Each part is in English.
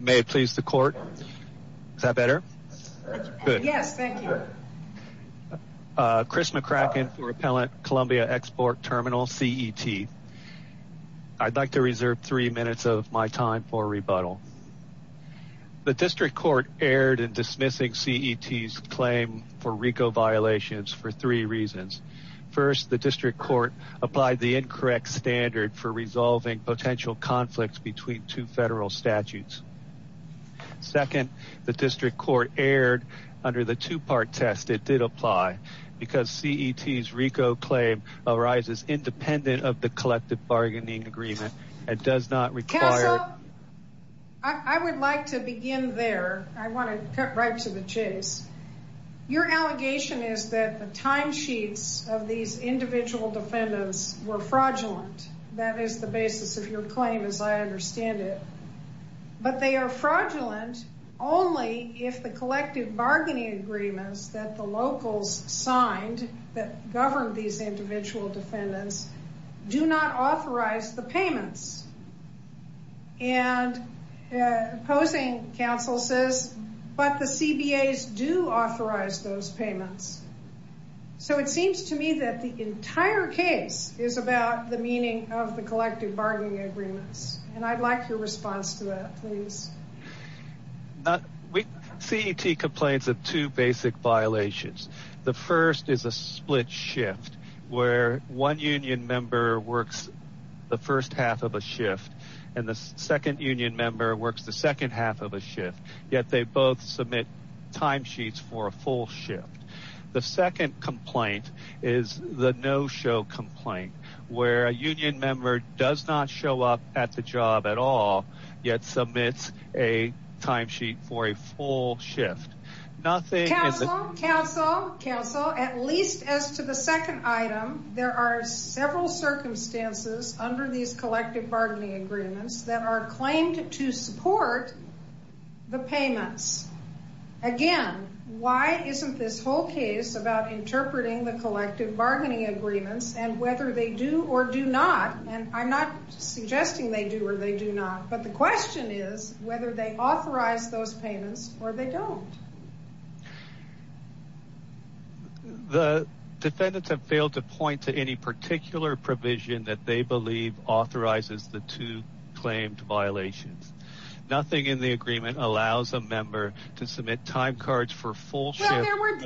May it please the court? Is that better? Good. Yes, thank you. Chris McCracken for Appellant Columbia Export Terminal, CET. I'd like to reserve three minutes of my time for rebuttal. The district court erred in dismissing CET's claim for RICO violations for three reasons. First, the district court applied the incorrect standard for resolving potential conflicts between two federal statutes. Second, the district court erred under the two-part test it did apply because CET's RICO claim arises independent of the collective bargaining agreement and does not require... I would like to begin there. I want to cut right to the chase. Your allegation is that timesheets of these individual defendants were fraudulent. That is the basis of your claim as I understand it. But they are fraudulent only if the collective bargaining agreements that the locals signed that governed these individual defendants do not authorize the payments. And opposing counsel says, but the CBA's do authorize those payments. So it seems to me that the entire case is about the meaning of the collective bargaining agreements. And I'd like your response to that, please. CET complains of two basic violations. The first is a split shift where one union member works the first half of a shift and the second union member works the second half of a shift, yet they both submit timesheets for a full shift. The second complaint is the no-show complaint where a union member does not show up at the job at all, yet submits a timesheet for a full shift. Counsel, counsel, counsel, at least as to the second item, there are several circumstances under these collective bargaining agreements that are claimed to support the payments. Again, why isn't this whole case about interpreting the collective bargaining agreements and whether they do or do not, and I'm not suggesting they do or they do not, but the they don't. The defendants have failed to point to any particular provision that they believe authorizes the two claimed violations. Nothing in the agreement allows a member to submit time cards for full shift.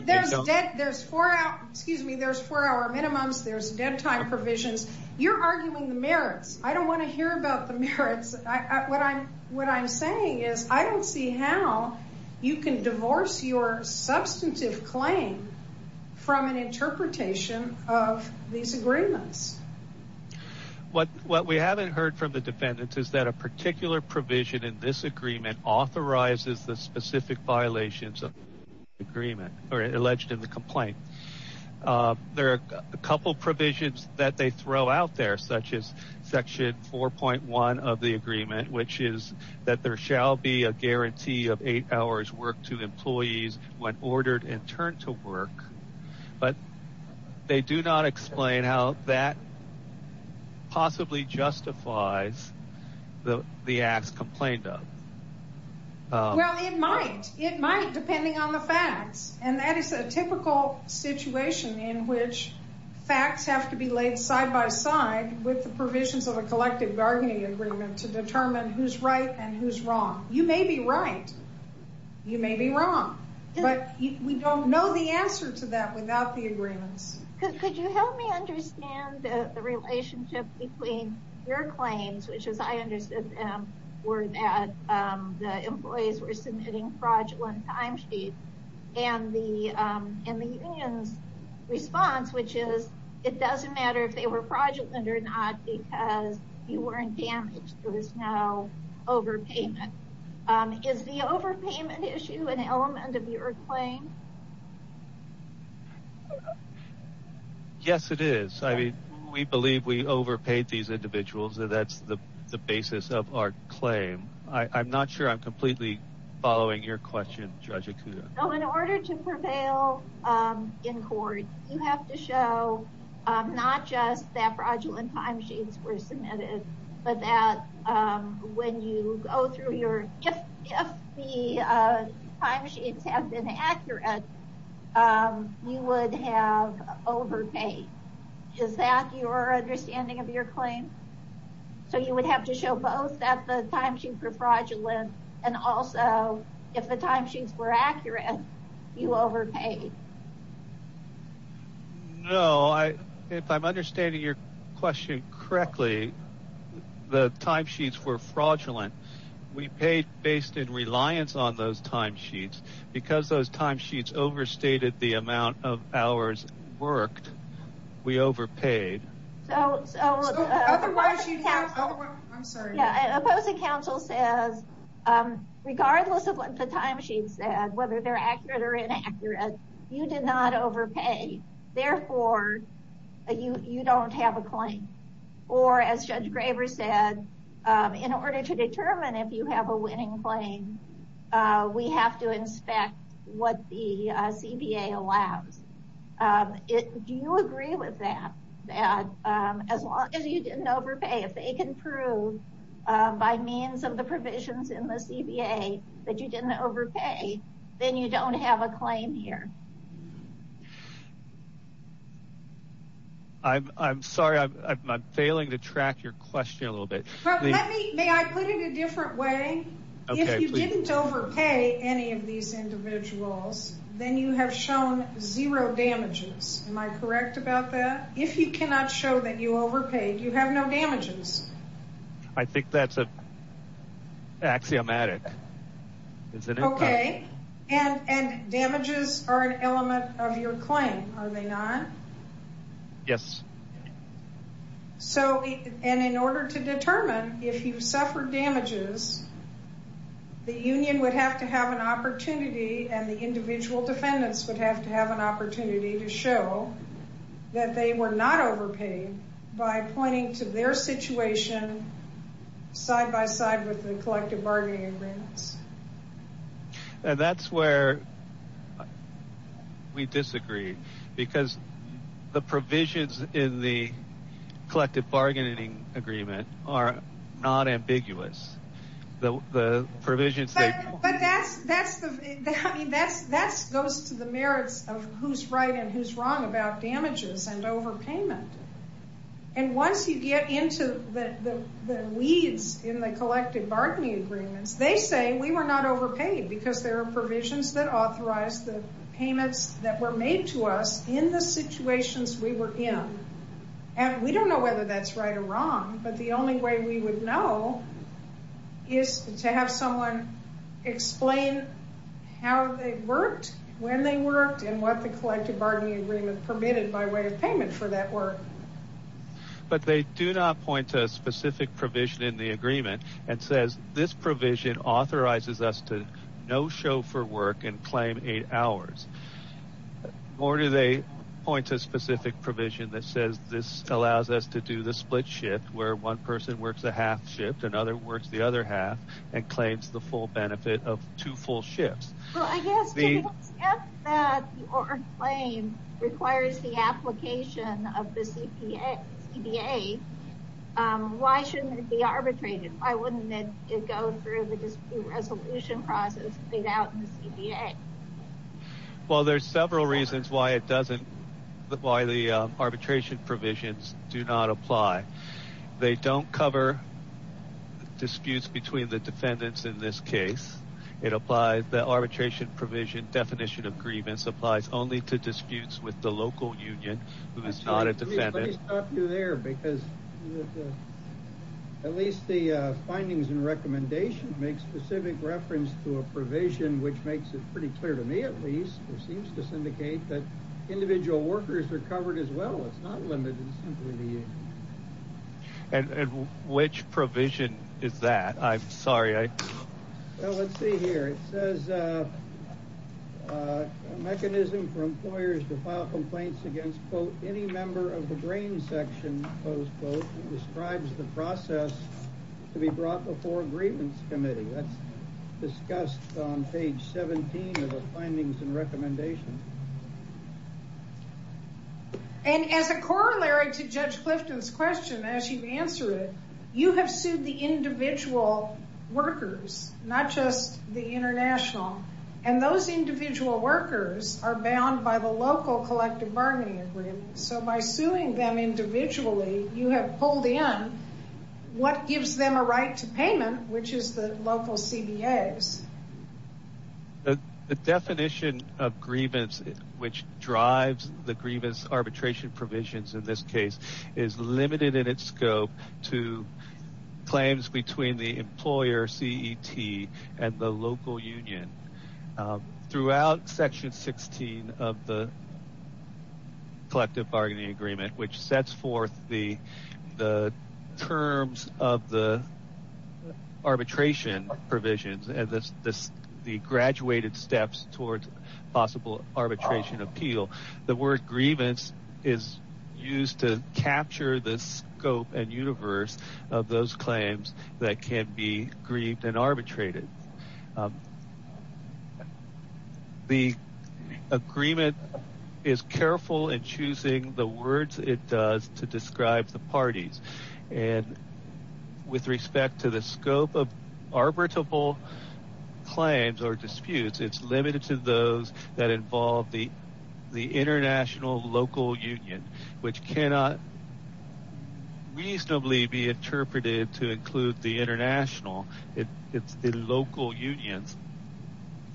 There's four hour, excuse me, there's four hour minimums, there's dead time provisions. You're arguing the merits. I don't want to hear about the merits. What I'm saying is I don't see how you can divorce your substantive claim from an interpretation of these agreements. What we haven't heard from the defendants is that a particular provision in this agreement authorizes the specific violations of the agreement or alleged in the complaint. There are a couple provisions that they throw out there, such as section 4.1 of the guarantee of eight hours work to employees when ordered and turned to work, but they do not explain how that possibly justifies the acts complained of. Well, it might. It might depending on the facts and that is a typical situation in which facts have to be laid side by side with the provisions of a collective bargaining agreement to determine who's right and who's wrong. You may be right, you may be wrong, but we don't know the answer to that without the agreements. Could you help me understand the relationship between your claims, which as I understood them, were that the employees were submitting fraudulent timesheets and the union's response, which is it doesn't matter if they were fraudulent or not because you weren't damaged. There was no overpayment. Is the overpayment issue an element of your claim? Yes, it is. I mean, we believe we overpaid these individuals. That's the basis of our claim. I'm not sure I'm completely following your question, Judge Akuda. In order to prevail in court, you have to show not just that fraudulent timesheets were submitted, but that if the timesheets have been accurate, you would have overpaid. Is that your understanding of your claim? You would have to show both that the timesheets were fraudulent and also if the No, if I'm understanding your question correctly, the timesheets were fraudulent. We paid based in reliance on those timesheets. Because those timesheets overstated the amount of hours worked, we overpaid. Opposing counsel says regardless of what the timesheets said, whether they're accurate or inaccurate, you did not overpay. Therefore, you don't have a claim. As Judge Graber said, in order to determine if you have a winning claim, we have to inspect what the CBA allows. Do you agree with that? As long as you didn't overpay, if they can prove by means of the provisions in the CBA that you didn't overpay, you don't have a claim here. I'm sorry, I'm failing to track your question a little bit. May I put it a different way? If you didn't overpay any of these individuals, then you have shown zero damages. Am I correct about that? If you cannot show that you overpaid, you have no damages. I think that's axiomatic. Okay, and damages are an element of your claim, are they not? Yes. In order to determine if you suffered damages, the union would have to have an opportunity and the individual defendants would have to have an opportunity to show that they were not overpaid by pointing to their situation side by side with the collective bargaining agreements. That's where we disagree because the provisions in the collective bargaining agreement are not ambiguous. But that goes to the merits of who's right and who's wrong about damages and overpayment. Once you get into the weeds in the collective bargaining agreements, they say we were not overpaid because there are provisions that authorize the payments that were made to us in the situations we were in. We don't know whether that's right or wrong, but the only way we would know is to have someone explain how they worked, when they worked, and what the collective bargaining agreement permitted by way of payment for that work. But they do not point to a specific provision in the agreement that says this provision authorizes us to no show for work and claim eight hours. Nor do they point to a specific provision that says this allows us to do the split shift where one person works a half shift, another works the other half, and claims the full benefit of two full shifts. Well, I guess the claim requires the application of the CDA. Why shouldn't it be arbitrated? Why wouldn't it go through the dispute resolution process laid out in the CDA? Well, there's several reasons why the arbitration provisions do not apply. They don't cover disputes between the defendants in this case. It applies, the arbitration provision definition of grievance applies only to disputes with the local union who is not a defendant. Let me stop you there because at least the findings and recommendations make specific reference to a provision which makes it pretty clear to me at least, it seems to syndicate that individual workers are covered as well. It's not limited simply to you. And which provision is that? I'm sorry. Well, let's see here. It says a mechanism for employers to file complaints against, quote, any member of the grain section, close quote, describes the process to be brought before grievance committee. That's discussed on page 17 of the findings and recommendations. And as a corollary to Judge Clifton's question, as you've answered it, you have sued the individual workers, not just the international. And those individual workers are bound by the local collective bargaining agreement. So by suing them individually, you have pulled in what gives them a right to payment, which is the local CBAs. The definition of grievance which drives the grievance arbitration provisions in this case is limited in its scope to claims between the employer, CET, and the local union. Throughout section 16 of the collective bargaining agreement, which sets forth the terms of the arbitration provisions and the graduated steps towards possible arbitration appeal, the word grievance is used to capture the scope and universe of those claims that can be grieved and arbitrated. The agreement is careful in choosing the words it does to describe the with respect to the scope of arbitrable claims or disputes. It's limited to those that involve the international local union, which cannot reasonably be interpreted to include the international. It's the local unions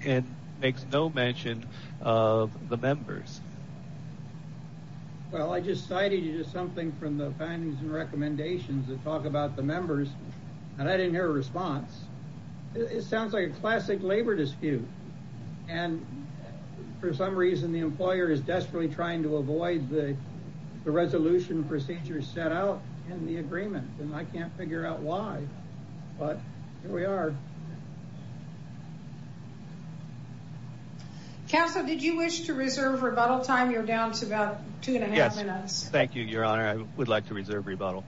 and makes no mention of the members. Well, I just cited something from the findings and recommendations that talk about the members, and I didn't hear a response. It sounds like a classic labor dispute. And for some reason, the employer is desperately trying to avoid the resolution procedures set out in the agreement, and I can't figure out why. But here we are. Council, did you wish to reserve rebuttal time? You're down to about two and a half minutes. Thank you, Your Honor. I would like to reserve rebuttal.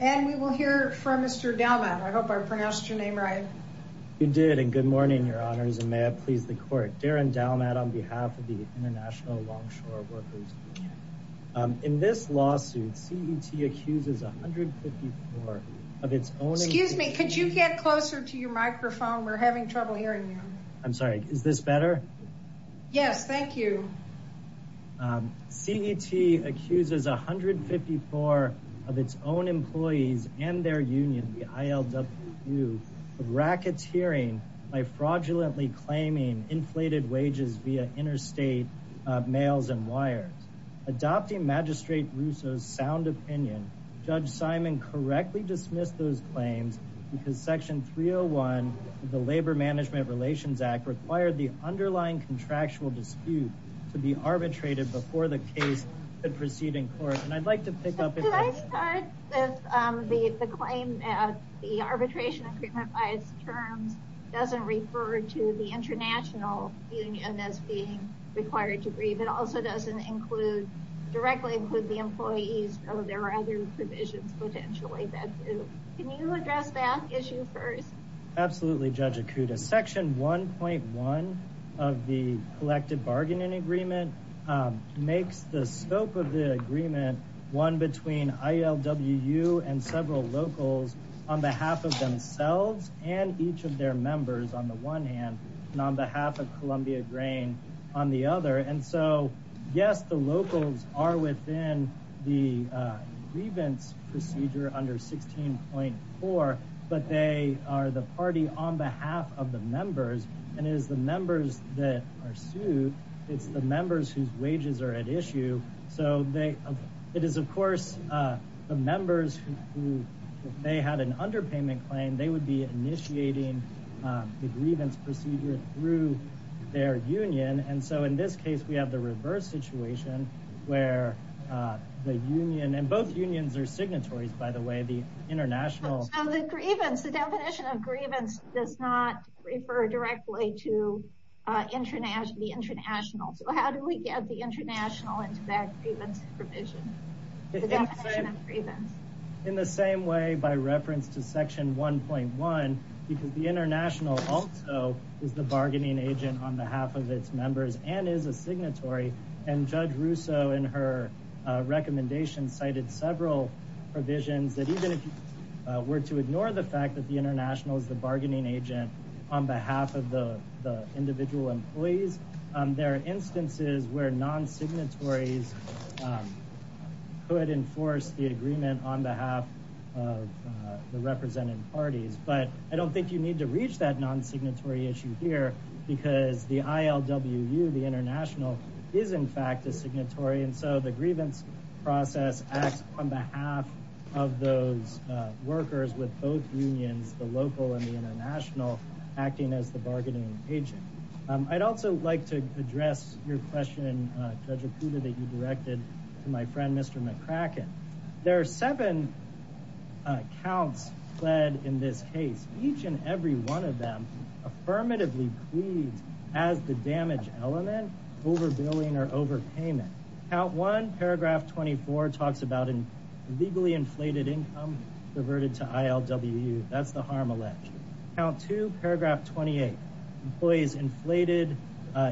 And we will hear from Mr. Dalmat. I hope I pronounced your name right. You did, and good morning, Your Honors, and may it please the court. Darren Dalmat on behalf of the International Longshore Workers Union. In this lawsuit, CET accuses 154 of its own... Could you get closer to your microphone? We're having trouble hearing you. I'm sorry. Is this better? Yes, thank you. CET accuses 154 of its own employees and their union, the ILWU, of racketeering by fraudulently claiming inflated wages via interstate mails and wires. Adopting Magistrate Russo's sound opinion, Judge Simon correctly dismissed those claims because Section 301 of the Labor Management Relations Act required the underlying contractual dispute to be arbitrated before the case could proceed in court, and I'd like to pick up... Could I start with the claim that the arbitration agreement by its terms doesn't refer to the international union as being required to grieve. It also doesn't directly include the employees, though there are other provisions potentially that do. Can you address that issue first? Absolutely, Judge Akuta. Section 1.1 of the collective bargaining agreement makes the scope of the agreement one between ILWU and several locals on behalf of themselves and each of their grain on the other. And so, yes, the locals are within the grievance procedure under 16.4, but they are the party on behalf of the members, and it is the members that are sued, it's the members whose wages are at issue, so they... It is, of course, the members who, if they had an underpayment claim, they would be initiating the grievance procedure through their union. And so, in this case, we have the reverse situation where the union, and both unions are signatories, by the way, the international... So the grievance, the definition of grievance, does not refer directly to the international. So how do we get the international into that grievance provision, the definition of grievance? In the same way, by reference to Section 1.1, because the international also is the bargaining agent on behalf of its members and is a signatory, and Judge Russo, in her recommendation, cited several provisions that even if you were to ignore the fact that the international is the bargaining agent on behalf of the individual employees, there are instances where non-signatories could enforce the agreement on behalf of the represented parties. But I don't think you need to reach that non-signatory issue here because the ILWU, the international, is, in fact, a signatory, and so the grievance process acts on behalf of those workers with both unions, the local and the international, acting as the bargaining agent. I'd also like to address your question, Judge Okuda, that you counts fled in this case. Each and every one of them affirmatively pleads as the damage element, overbilling or overpayment. Count one, paragraph 24, talks about a legally inflated income reverted to ILWU. That's the harm alleged. Count two, paragraph 28, employees' inflated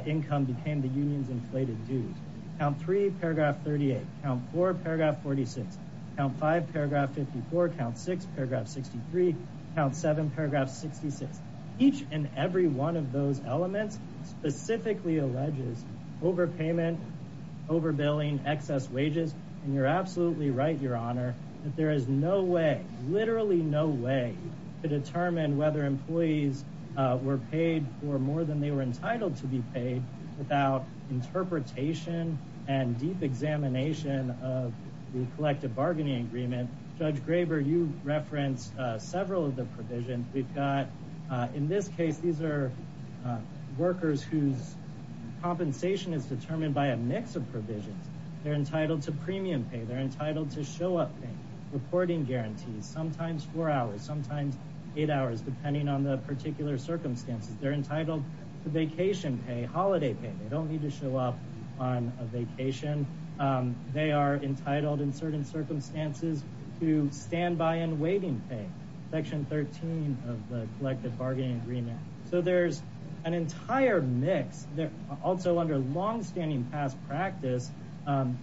income became the union's inflated dues. Count three, paragraph 38. Count four, paragraph 46. Count five, paragraph 54. Count six, paragraph 63. Count seven, paragraph 66. Each and every one of those elements specifically alleges overpayment, overbilling, excess wages, and you're absolutely right, your honor, that there is no way, literally no way, to determine whether employees were paid for more than they were entitled to be paid without interpretation and deep examination of the collective bargaining agreement. Judge Graber, you referenced several of the provisions. We've got, in this case, these are workers whose compensation is determined by a mix of provisions. They're entitled to premium pay. They're entitled to show-up pay, reporting guarantees, sometimes four hours, sometimes eight hours, depending on the particular circumstances. They're entitled to vacation pay, holiday pay. They don't need to show up on a vacation. They are entitled, in certain circumstances, to standby and waiting pay, section 13 of the collective bargaining agreement. So there's an entire mix. Also, under long-standing past practice,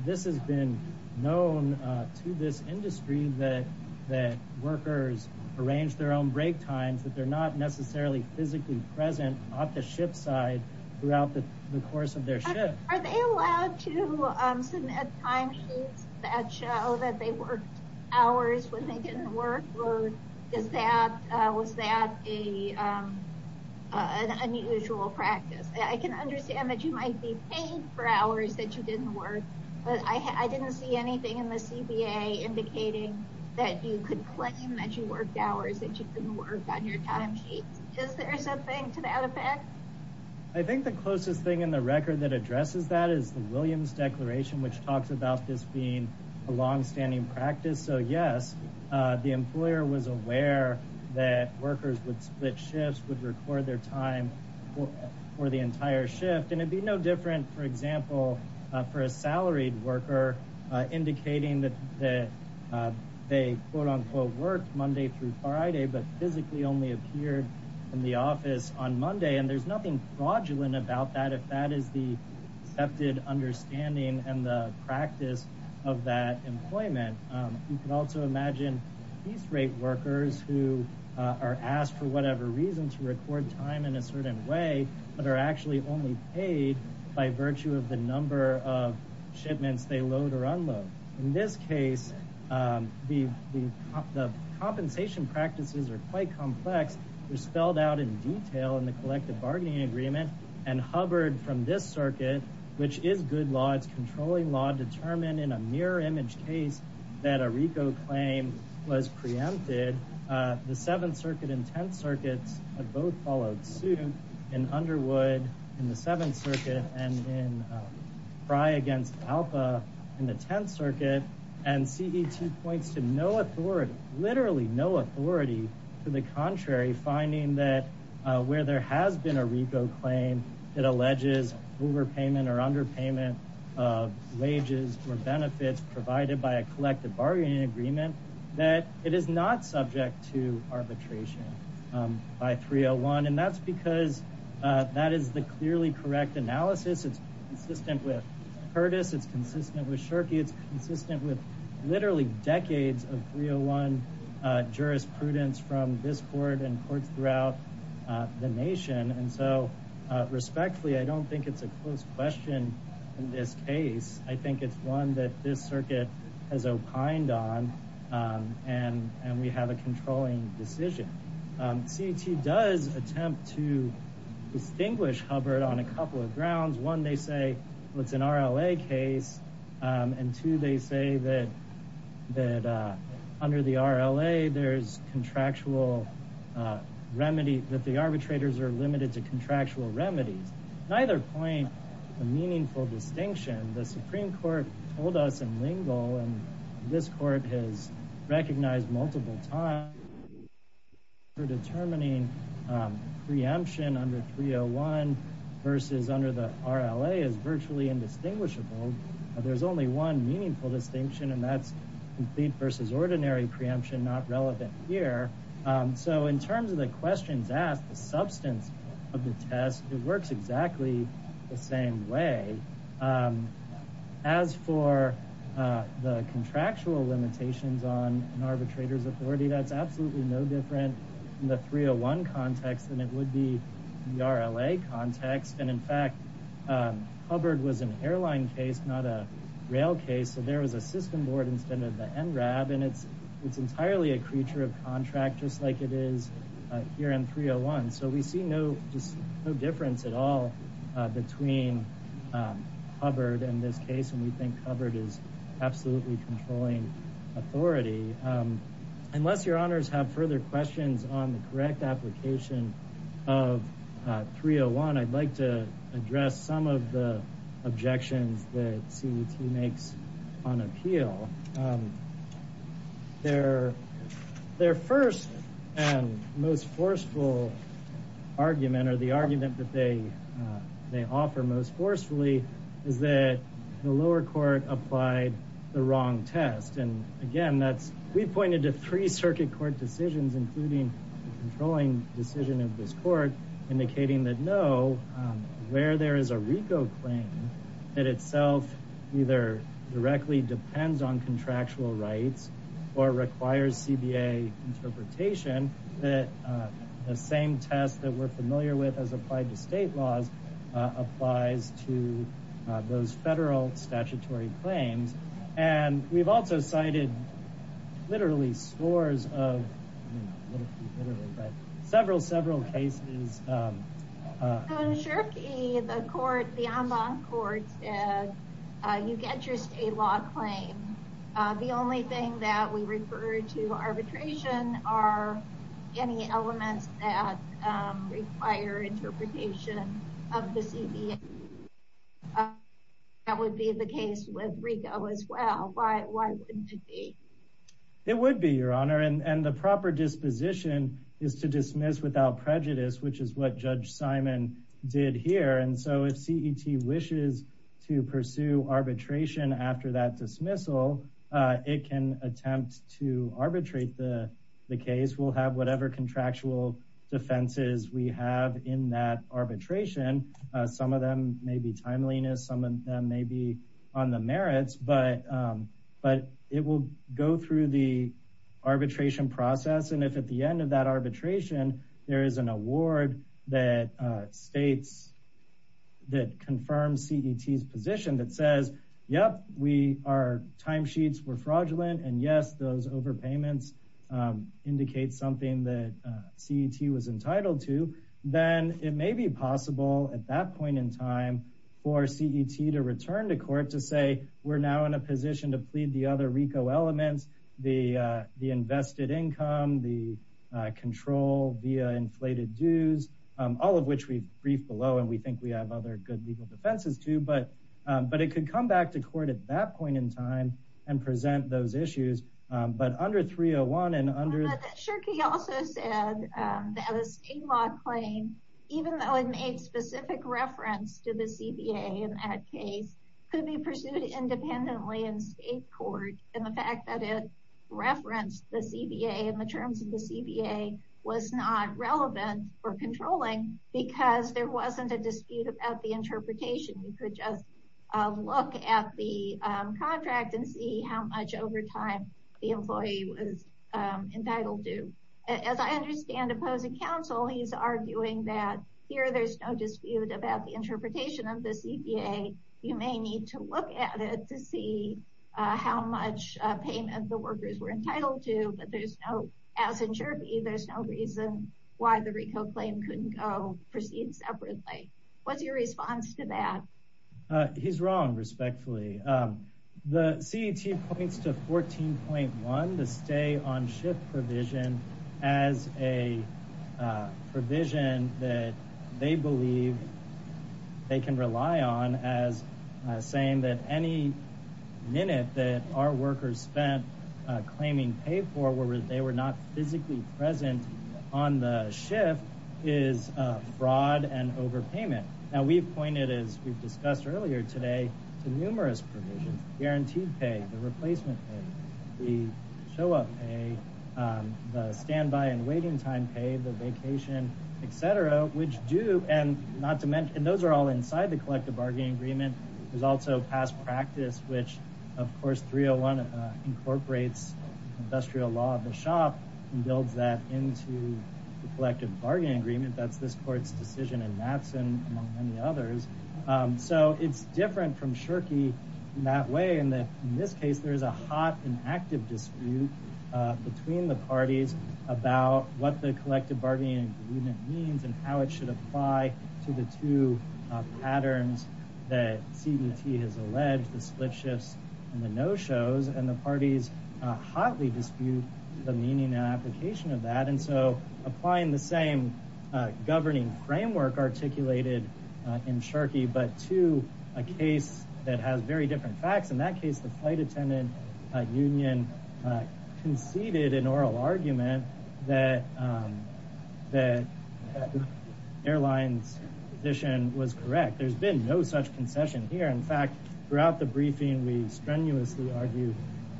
this has been known to this industry that workers arrange their own break times, that they're not necessarily physically present off the ship's side throughout the course of their shift. Are they allowed to submit timesheets that show that they worked hours when they didn't work, or was that an unusual practice? I can understand that you might be paid for hours that you didn't work, but I didn't see anything in the CBA indicating that you could claim that you worked hours that you didn't work on your timesheets. Is there something to that effect? I think the closest thing in the record that addresses that is the Williams Declaration, which talks about this being a long-standing practice. So yes, the employer was aware that workers would split shifts, would record their time for the entire shift, and it'd be no different, for example, for a salaried worker indicating that they quote-unquote worked Monday through Friday, but physically only appeared in the office on Monday. And there's nothing fraudulent about that if that is the accepted understanding and the practice of that employment. You can also imagine these rate workers who are asked for whatever reason to record time in a certain way, but are actually only paid by virtue of the number of shipments they load or compensation practices are quite complex. They're spelled out in detail in the collective bargaining agreement and hovered from this circuit, which is good law. It's controlling law determined in a mirror image case that a RICO claim was preempted. The Seventh Circuit and Tenth Circuits had both followed suit in Underwood in the Seventh Circuit and in Frye against Alpa in the Tenth Circuit, and CET points to no authority, literally no authority, to the contrary, finding that where there has been a RICO claim, it alleges overpayment or underpayment of wages or benefits provided by a collective bargaining agreement, that it is not subject to arbitration by 301. And that's because that is the clearly correct analysis. It's consistent with Curtis. It's consistent with literally decades of 301 jurisprudence from this court and courts throughout the nation. And so respectfully, I don't think it's a close question in this case. I think it's one that this circuit has opined on and we have a controlling decision. CET does attempt to say that under the RLA, there's contractual remedy, that the arbitrators are limited to contractual remedies. Neither point a meaningful distinction. The Supreme Court told us in Lingle, and this court has recognized multiple times for determining preemption under 301 versus under RLA is virtually indistinguishable. There's only one meaningful distinction and that's complete versus ordinary preemption, not relevant here. So in terms of the questions asked, the substance of the test, it works exactly the same way. As for the contractual limitations on an arbitrator's authority, that's absolutely no different in the 301 context than it would be in the RLA context. And in fact, Hubbard was an airline case, not a rail case. So there was a system board instead of the NRAB and it's entirely a creature of contract, just like it is here in 301. So we see no difference at all between Hubbard and this case. And we think Hubbard is absolutely controlling authority. Unless your honors have further questions on the correct application of 301, I'd like to address some of the objections that CET makes on appeal. Their first and most forceful argument or the argument that they offer most forcefully is that the lower court applied the wrong test. And again, we pointed to three circuit court decisions, including the controlling decision of this court indicating that no, where there is a RICO claim that itself either directly depends on contractual rights or requires CBA interpretation, that the same test that we're familiar with as applied to state laws applies to those federal statutory claims. And we've also cited literally scores of literally, but several, several cases. The court, the en banc court said you get your state law claim. The only thing that we refer to arbitration are any elements that require interpretation of the CBA. And that would be the case with RICO as well. Why wouldn't it be? It would be your honor. And the proper disposition is to dismiss without prejudice, which is what Judge Simon did here. And so if CET wishes to pursue arbitration after that dismissal, it can attempt to arbitrate the case. We'll have whatever contractual defenses we have in that arbitration. Some of them may be timeliness, some of them may be on the merits, but it will go through the arbitration process. And if at the end of that arbitration, there is an award that states, that confirms CET's position that says, yep, our time sheets were fraudulent and yes, those overpayments indicate something that CET was entitled to, then it may be possible at that point in time for CET to return to court to say, we're now in a position to plead the other RICO elements, the invested income, the control via inflated dues, all of which we've briefed below. And we think we have other good legal defenses too, but it could come back to court at that point in time and present those issues. But under 301 Shirky also said that a state law claim, even though it made specific reference to the CBA in that case could be pursued independently in state court. And the fact that it referenced the CBA and the terms of the CBA was not relevant for controlling because there wasn't a dispute about the interpretation. You could just look at the contract and see how much over time the employee was entitled to. As I understand opposing counsel, he's arguing that here, there's no dispute about the interpretation of the CBA. You may need to look at it to see how much payment the workers were entitled to, but there's no, as in Shirky, there's no reason why the RICO claim couldn't go proceed separately. What's your response to that? He's wrong, respectfully. The CET points to 14.1, the stay on shift provision as a provision that they believe they can rely on as saying that any minute that our workers spent claiming pay for where they were not physically present on the shift is fraud and overpayment. Now we've pointed, as we've discussed earlier today, to numerous provisions, guaranteed pay, the replacement pay, the show-up pay, the standby and waiting time pay, the vacation, etc., which do and not to mention those are all inside the collective bargaining agreement. There's also past practice, which of course 301 incorporates industrial law of the shop and builds that into the collective bargaining agreement. That's this court's decision in Matson, among many others. So it's different from Shirky in that way. In this case, there is a hot and active dispute between the parties about what the collective bargaining agreement means and how it should apply to the two patterns that CET has alleged, the split shifts and the no-shows, and the parties hotly dispute the meaning and application of that. And so applying the same governing framework articulated in Shirky, but to a case that has very different facts, in that case the flight attendant union conceded an oral argument that the airline's position was correct. There's been no such concession here. In fact, throughout the briefing, we strenuously argued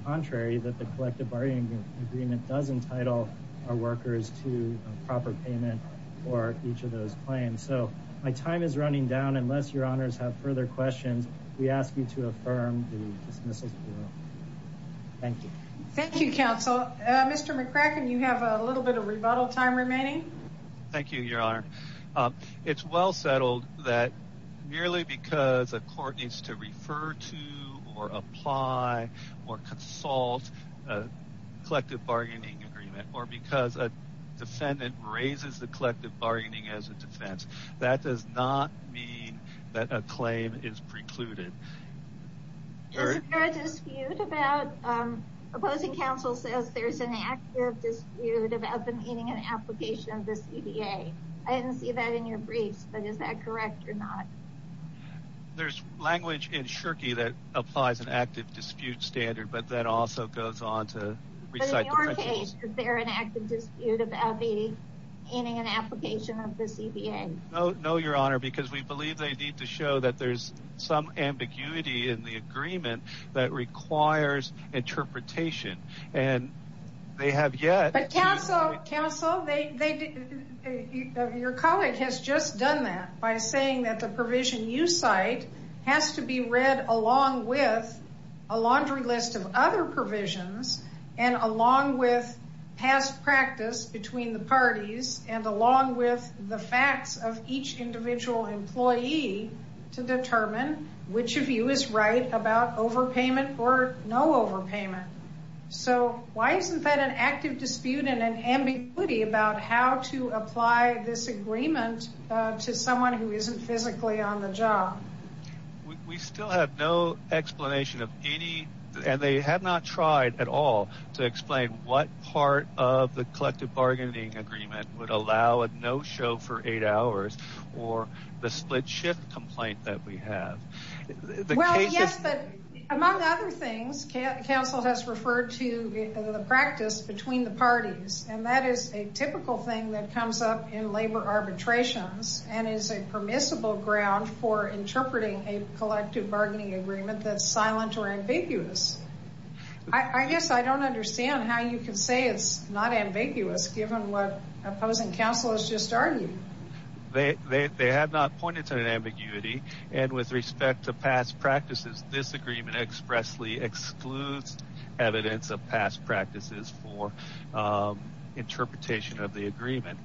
contrary that the collective bargaining agreement does entitle our workers to a proper payment for each of those claims. So my time is running down. Unless your honors have further questions, we ask you to affirm the dismissal. Thank you. Thank you, counsel. Mr. McCracken, you have a little bit of rebuttal time remaining. Thank you, your honor. It's well settled that merely because a court needs to refer to or apply or consult a collective bargaining agreement or because a defendant raises the collective bargaining as a defense, that does not mean that a claim is precluded. Is there a dispute about, opposing counsel says there's an active dispute about the meaning and application of the CDA. I didn't see that in your briefs, but is that correct or not? There's language in Shirky that applies an active dispute standard, but that also goes on to recite the principles. But in your case, is there an active dispute about the meaning and application of the CDA? No, no, your honor, because we believe they need to show that there's some ambiguity in the agreement that requires interpretation and they have yet. But counsel, your colleague has just done that by saying that the provision you cite has to be read along with a laundry list of other provisions and along with past practice between the parties and the facts of each individual employee to determine which of you is right about overpayment or no overpayment. So why isn't that an active dispute and an ambiguity about how to apply this agreement to someone who isn't physically on the job? We still have no explanation of any, and they have not tried at all to explain what part of the collective bargaining agreement would allow a no show for eight hours or the split shift complaint that we have. Well, yes, but among other things, counsel has referred to the practice between the parties, and that is a typical thing that comes up in labor arbitrations and is a permissible ground for interpreting a collective bargaining agreement that's silent or ambiguous. I guess I don't understand how you can say it's not ambiguous given what opposing counsel has just argued. They have not pointed to an ambiguity and with respect to past practices, this agreement expressly excludes evidence of past practices for interpretation of the agreement.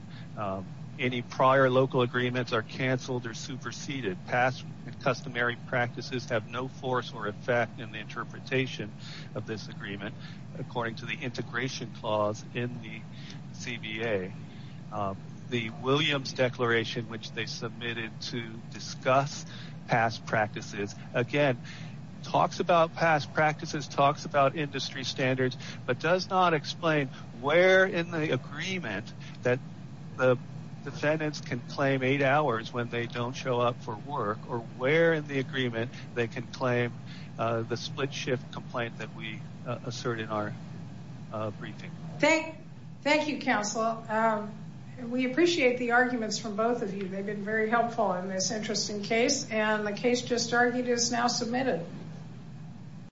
Any prior local agreements are canceled or superseded. Past customary practices have force or effect in the interpretation of this agreement according to the integration clause in the CBA. The Williams Declaration, which they submitted to discuss past practices, again, talks about past practices, talks about industry standards, but does not explain where in the agreement that the defendants can claim eight hours when they don't show up for work or where in the agreement they can claim the split shift complaint that we assert in our briefing. Thank you, counsel. We appreciate the arguments from both of you. They've been very helpful in this interesting case, and the case just argued is now submitted.